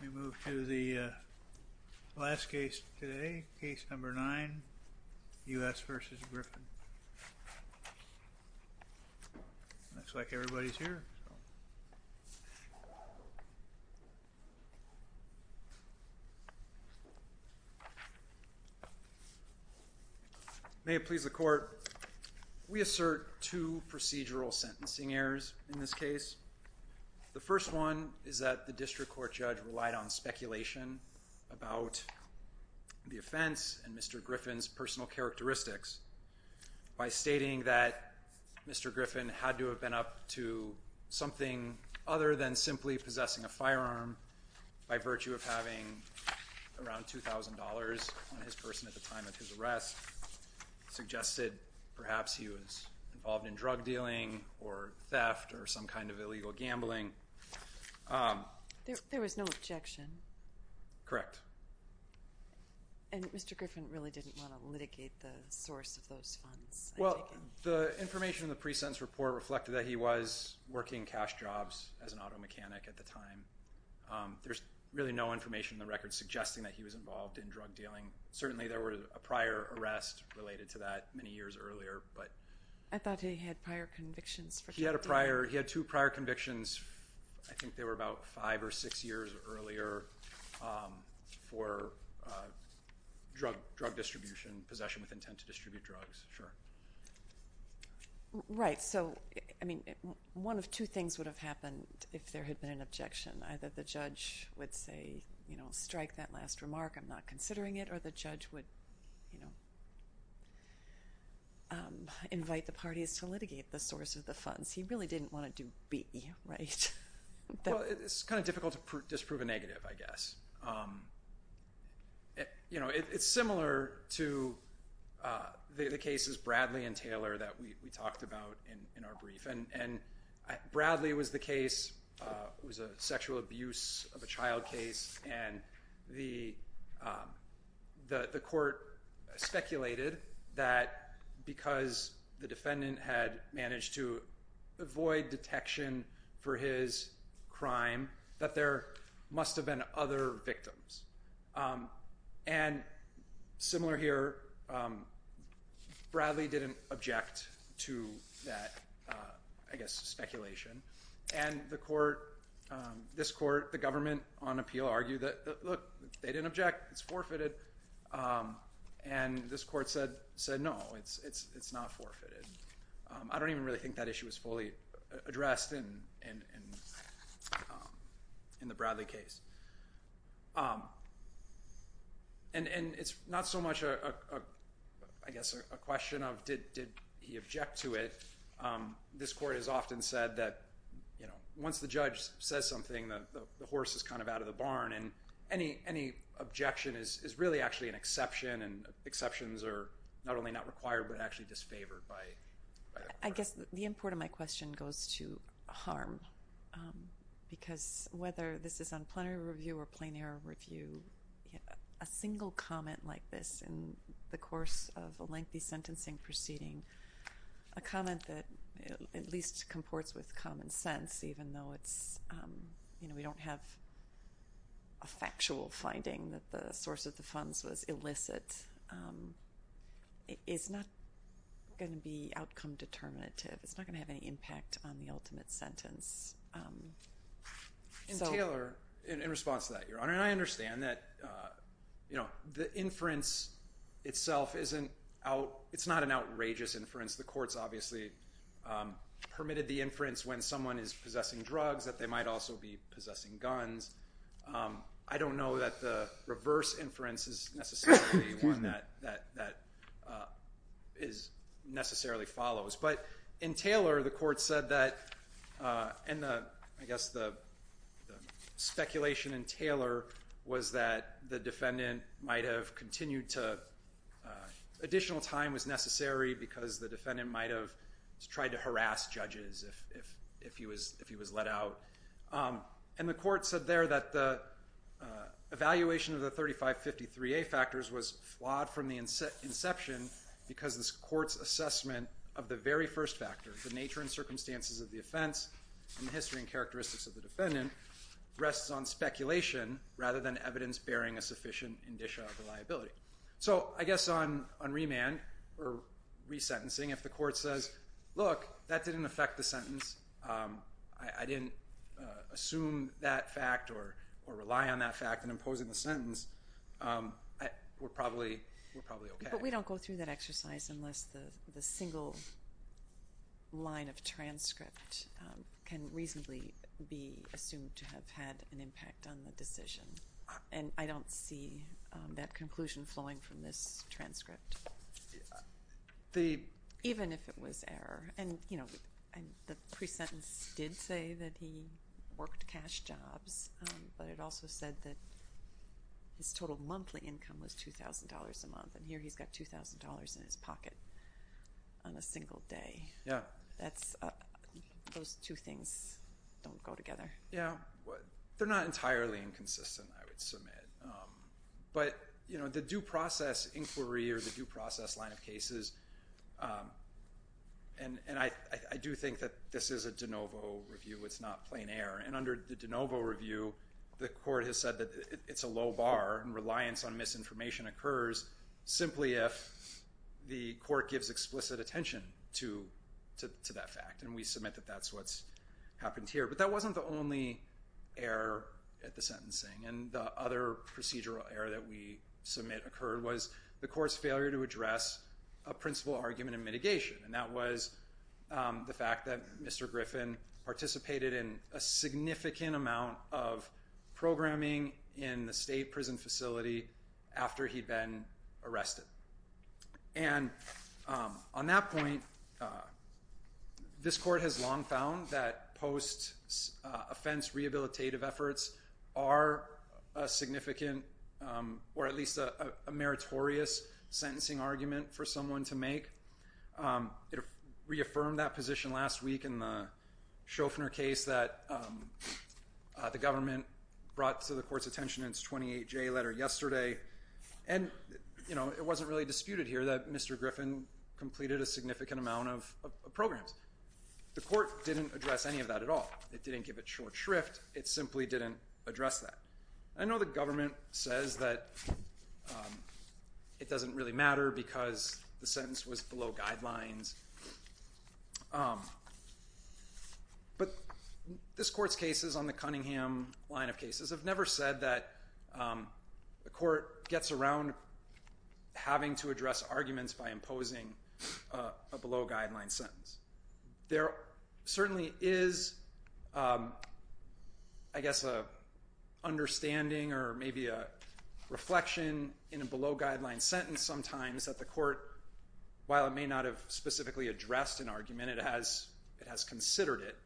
We move to the last case today, case number nine, U.S. v. Griffin. Looks like everybody's here. May it please the court, we assert two procedural sentencing errors in this case. The first one is that the district court judge relied on speculation about the offense and Mr. Griffin's personal characteristics by stating that Mr. Griffin had to have been up to something other than simply possessing a firearm by virtue of having around $2,000 on his person at the time of his arrest. Suggested perhaps he was involved in drug dealing or theft or some kind of illegal gambling. Judge Cardone There was no objection? Mr. Griffin Correct. Judge Cardone And Mr. Griffin really didn't want to litigate the source of those funds? Mr. Griffin Well, the information in the pre-sentence report reflected that he was working cash jobs as an auto mechanic at the time. There's really no information in the record suggesting that he was involved in drug dealing. Certainly there was a prior arrest related to that many years earlier. Judge Cardone I thought he had prior convictions. Mr. Griffin He had two prior convictions. I think they were about five or six years earlier for drug distribution, possession with intent to distribute drugs. Judge Cardone Right. One of two things would have happened if there had been an objection. Either the judge would say, strike that last remark, I'm not considering it, or the judge would invite the parties to litigate the source of the funds. He really didn't want to do B, right? Mr. Griffin It's kind of difficult to disprove a negative, I guess. It's similar to the cases Bradley and Taylor that we talked about in our brief. Bradley was the case, was a sexual abuse of a child case, and the court speculated that because the defendant had managed to cover his crime that there must have been other victims. And similar here, Bradley didn't object to that, I guess, speculation. And the court, this court, the government on appeal argued that, look, they didn't object, it's forfeited. And this court said, no, it's not forfeited. I don't even really think that issue is fully addressed in the Bradley case. And it's not so much, I guess, a question of, did he object to it? This court has often said that, you know, once the judge says something, the horse is kind of out of the barn, and any objection is really actually an exception, and exceptions are not only not required, but actually disfavored by the court. I guess the import of my question goes to harm, because whether this is on plenary review or plain error review, a single comment like this in the course of a lengthy sentencing proceeding, a comment that at least comports with common sense, even though it's, you know, we don't have a factual finding that the source of the funds was illicit, is not going to be outcome determinative. It's not going to have any impact on the ultimate sentence. And Taylor, in response to that, Your Honor, and I understand that, you know, the inference itself isn't out, it's not an outrageous inference. The court's obviously permitted the inference when someone is possessing drugs that they might also be possessing guns. I don't know that the reverse inference is necessarily one that necessarily follows. But in Taylor, the court said that, and I guess the speculation in Taylor was that the defendant might have continued to, additional time was necessary because the defendant might have tried to harass judges if he was let out. And the court said there that the evaluation of the 3553A factors was flawed from the inception because this court's assessment of the very first factor, the nature and circumstances of the offense, and the history and characteristics of the defendant, rests on speculation rather than evidence bearing a sufficient indicia of reliability. So I guess on remand or resentencing, if the court says, look, that didn't affect the sentence, I didn't assume that fact or rely on that fact in imposing the sentence, we're probably okay. But we don't go through that exercise unless the single line of transcript can reasonably be assumed to have had an impact on the decision. And I don't see that conclusion flowing from this transcript, even if it was error. And the pre-sentence did say that he worked cash jobs, but it also said that his total monthly income was $2,000 a month, and here he's got $2,000 in his pocket on a single day. Those two things don't go together. Yeah. They're not entirely inconsistent, I would submit. But the due process inquiry or the due process line of cases, and I do think that this is a de novo review, it's not plain error. And under the de novo review, the court has said that it's a low bar and that reliance on misinformation occurs simply if the court gives explicit attention to that fact. And we submit that that's what's happened here. But that wasn't the only error at the sentencing. And the other procedural error that we submit occurred was the court's failure to address a principal argument in mitigation. And that was the fact that Mr. Griffin participated in a significant amount of programming in the state prison facility after he'd been arrested. And on that point, this court has long found that post-offense rehabilitative efforts are a significant, or at least a meritorious, sentencing argument for someone to make. It was a case that the government brought to the court's attention in its 28-J letter yesterday. And, you know, it wasn't really disputed here that Mr. Griffin completed a significant amount of programs. The court didn't address any of that at all. It didn't give a short shrift. It simply didn't address that. I know the government says that it doesn't really matter because the sentence was below guidelines. But this court's cases on the Cunningham line of cases have never said that the court gets around having to address arguments by imposing a below-guideline sentence. There certainly is, I guess, an understanding or maybe a reflection in a below-guideline sentence sometimes that the court, while it may not have specifically addressed an argument, it has considered it.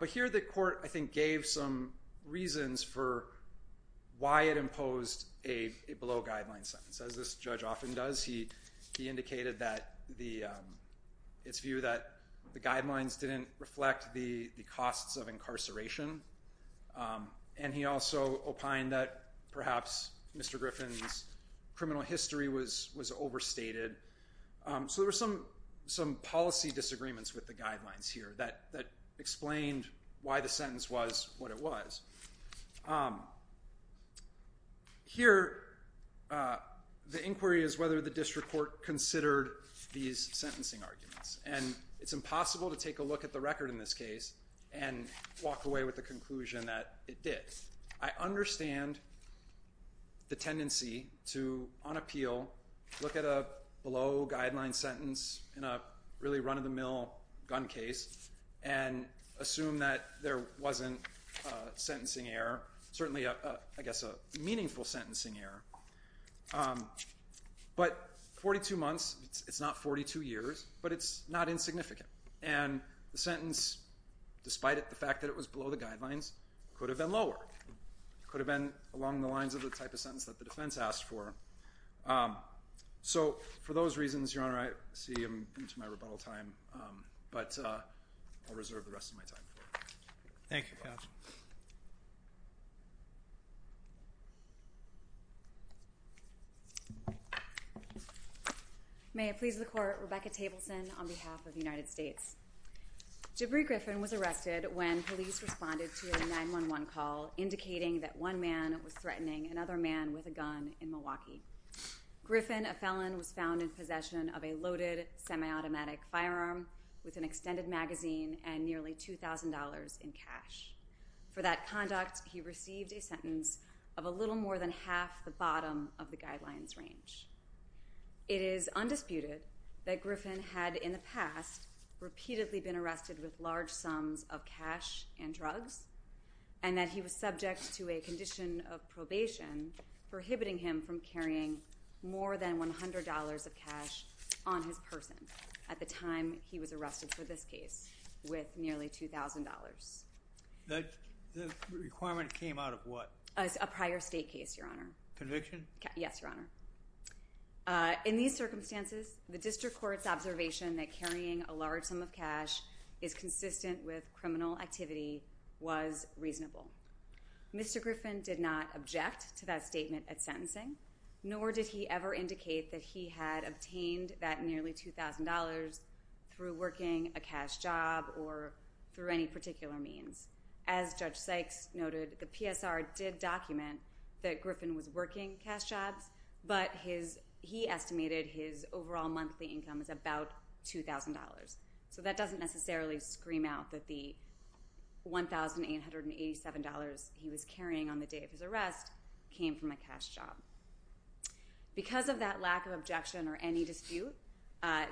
But here the court, I think, gave some reasons for why it imposed a below-guideline sentence. As this judge often does, he indicated that its view that the guidelines didn't reflect the costs of incarceration. And he also opined that perhaps Mr. Griffin's criminal history was overstated. So there were some policy disagreements with the guidelines here that explained why the sentence was what it was. Here the inquiry is whether the district court considered these sentencing arguments. And it's impossible to take a look at the record in this case and walk away with the conclusion that it did. I understand the tendency to, on appeal, look at a below-guideline sentence in a really run-of-the-mill gun case and assume that there wasn't a sentencing error, certainly a, I guess, a meaningful sentencing error. But 42 months, it's not 42 years, but it's not insignificant. And the sentence, despite the fact that it was below the guidelines, could have been lower. It could have been along the lines of the type of sentence that the defense asked for. So for those reasons, Your Honor, I see him into my rebuttal time, but I'll reserve the rest of my time for it. Thank you, counsel. May it please the Court, Rebecca Tableson on behalf of the United States. Jibri Griffin was arrested when police responded to a 911 call indicating that one man was threatening another man with a gun in Milwaukee. Griffin, a felon, was found in possession of a loaded semi-automatic firearm with an extended magazine and nearly $2,000 in cash. For that conduct, he received a sentence of a little more than half the bottom of the guidelines range. It is undisputed that Griffin had, in the past, repeatedly been arrested with large sums of cash and drugs and that he was subject to a condition of probation prohibiting him from carrying large sums of cash on his person at the time he was arrested for this case with nearly $2,000. The requirement came out of what? A prior state case, Your Honor. Conviction? Yes, Your Honor. In these circumstances, the district court's observation that carrying a large sum of cash is consistent with criminal activity was reasonable. Mr. Griffin did not indicate that he had obtained that nearly $2,000 through working a cash job or through any particular means. As Judge Sykes noted, the PSR did document that Griffin was working cash jobs, but he estimated his overall monthly income as about $2,000. So that doesn't necessarily scream out that the $1,887 he was carrying on the day of his arrest came from a cash job. Because of that lack of objection or any dispute,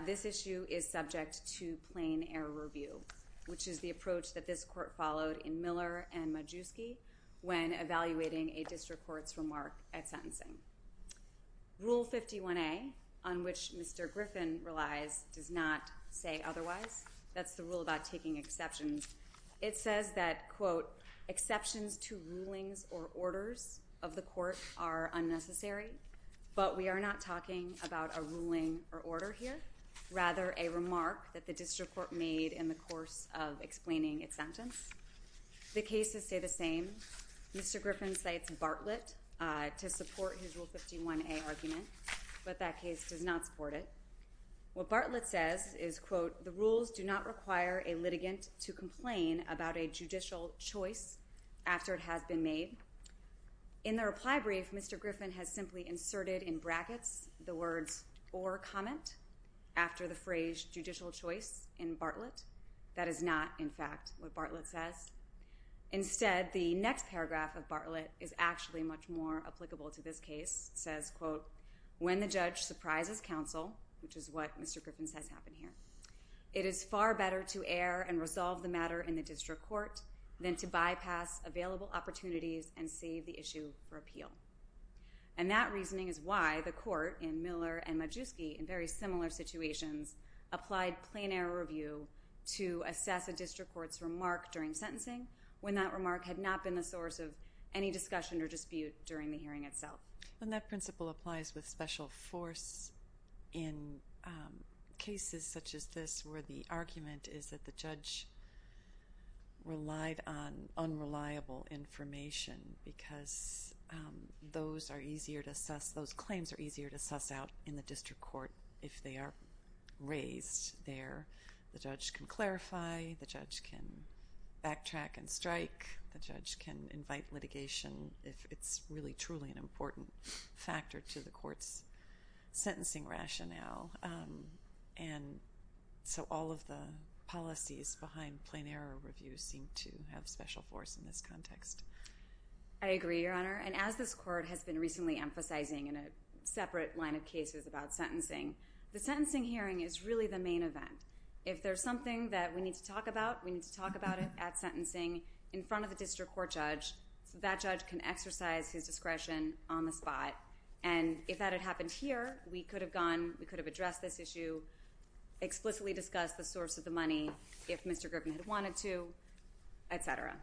this issue is subject to plain error review, which is the approach that this court followed in Miller and Majewski when evaluating a district court's remark at sentencing. Rule 51A, on which Mr. Griffin relies, does not say otherwise. That's the rule about taking exceptions. It says that, quote, exceptions to rulings or orders of the court are unnecessary, but we are not talking about a ruling or order here, rather a remark that the district court made in the course of explaining its sentence. The cases say the same. Mr. Griffin cites Bartlett to support his Rule 51A argument, but that case does not support it. What Bartlett says is, quote, the rules do not require a ruling after it has been made. In the reply brief, Mr. Griffin has simply inserted in brackets the words, or comment, after the phrase judicial choice in Bartlett. That is not, in fact, what Bartlett says. Instead, the next paragraph of Bartlett is actually much more applicable to this case. It says, quote, when the judge surprises counsel, which is what Mr. Griffin says happened here, it is far better to err and resolve the matter in the district court than to bypass available opportunities and save the issue for appeal. And that reasoning is why the court in Miller and Majewski, in very similar situations, applied plain error review to assess a district court's remark during sentencing when that remark had not been the source of any discussion or dispute during the hearing itself. And that principle applies with special force in cases such as this where the argument is that the judge relied on unreliable information because those claims are easier to suss out in the district court if they are raised there. The judge can clarify. The judge can backtrack and strike. The judge can invite litigation if it's really, truly an important factor to the court's sentencing rationale. And so all of the policies behind plain error review seem to have special force in this context. I agree, Your Honor. And as this court has been recently emphasizing in a separate line of cases about sentencing, the sentencing hearing is really the main event. If there's something that we need to talk about, we need to talk about it at sentencing in front of the court. And if that had happened here, we could have gone, we could have addressed this issue, explicitly discussed the source of the money, if Mr. Griffin had wanted to, et cetera.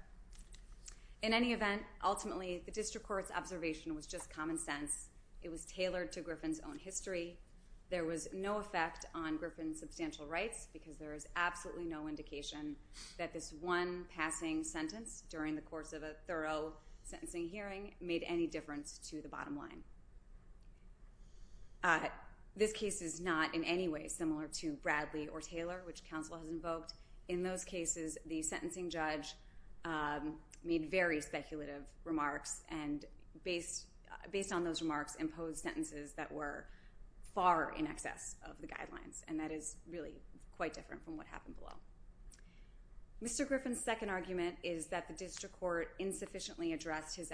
In any event, ultimately, the district court's observation was just common sense. It was tailored to Griffin's own history. There was no effect on Griffin's substantial rights because there is absolutely no indication that this one passing sentence during the hearing was a fraud. This case is not in any way similar to Bradley or Taylor, which counsel has invoked. In those cases, the sentencing judge made very speculative remarks, and based on those remarks, imposed sentences that were far in excess of the guidelines. And that is really quite different from what happened below. Mr. Griffin's second argument is that the district court insufficiently addressed his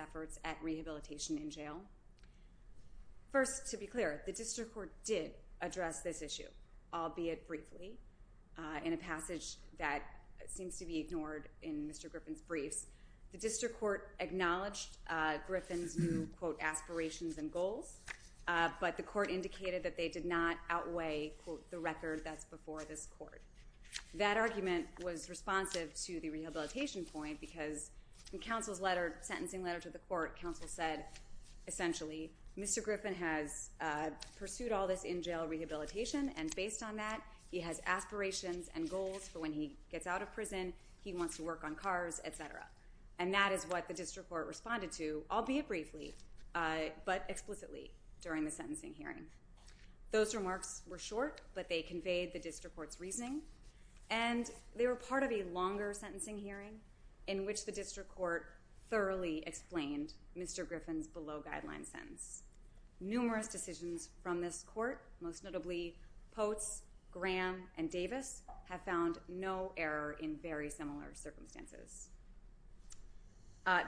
jail. First, to be clear, the district court did address this issue, albeit briefly, in a passage that seems to be ignored in Mr. Griffin's briefs. The district court acknowledged Griffin's new, quote, aspirations and goals, but the court indicated that they did not outweigh, quote, the record that's before this court. That argument was responsive to the rehabilitation point because in counsel's letter, sentencing letter to the court, counsel said essentially, Mr. Griffin has pursued all this in jail rehabilitation, and based on that, he has aspirations and goals for when he gets out of prison, he wants to work on cars, et cetera. And that is what the district court responded to, albeit briefly, but explicitly during the sentencing hearing. Those remarks were short, but they conveyed the district court's reasoning, and they were part of a longer sentencing hearing in which the district court thoroughly explained Mr. Griffin's below-guideline sentence. Numerous decisions from this court, most notably Pote's, Graham, and Davis, have found no error in very similar circumstances.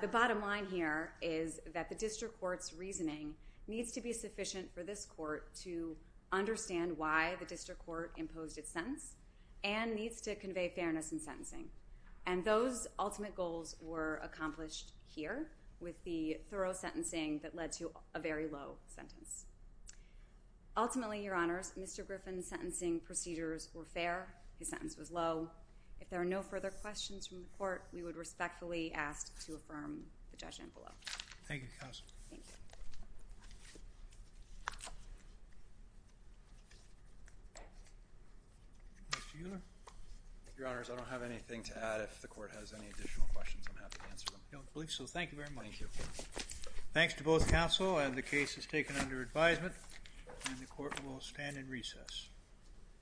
The bottom line here is that the district court's reasoning needs to be sufficient for this court to understand why the district court imposed its sentence and needs to convey what the district court accomplished here with the thorough sentencing that led to a very low sentence. Ultimately, Your Honors, Mr. Griffin's sentencing procedures were fair. His sentence was low. If there are no further questions from the court, we would respectfully ask to affirm the judgment below. Thank you, Counsel. Mr. Uhler? Your Honors, I don't have anything to add. If the court has any additional questions, I'm happy to answer them. I don't believe so. Thank you very much. Thank you. Thanks to both counsel. The case is taken under advisement, and the court will stand in recess. Thank you. Thank you.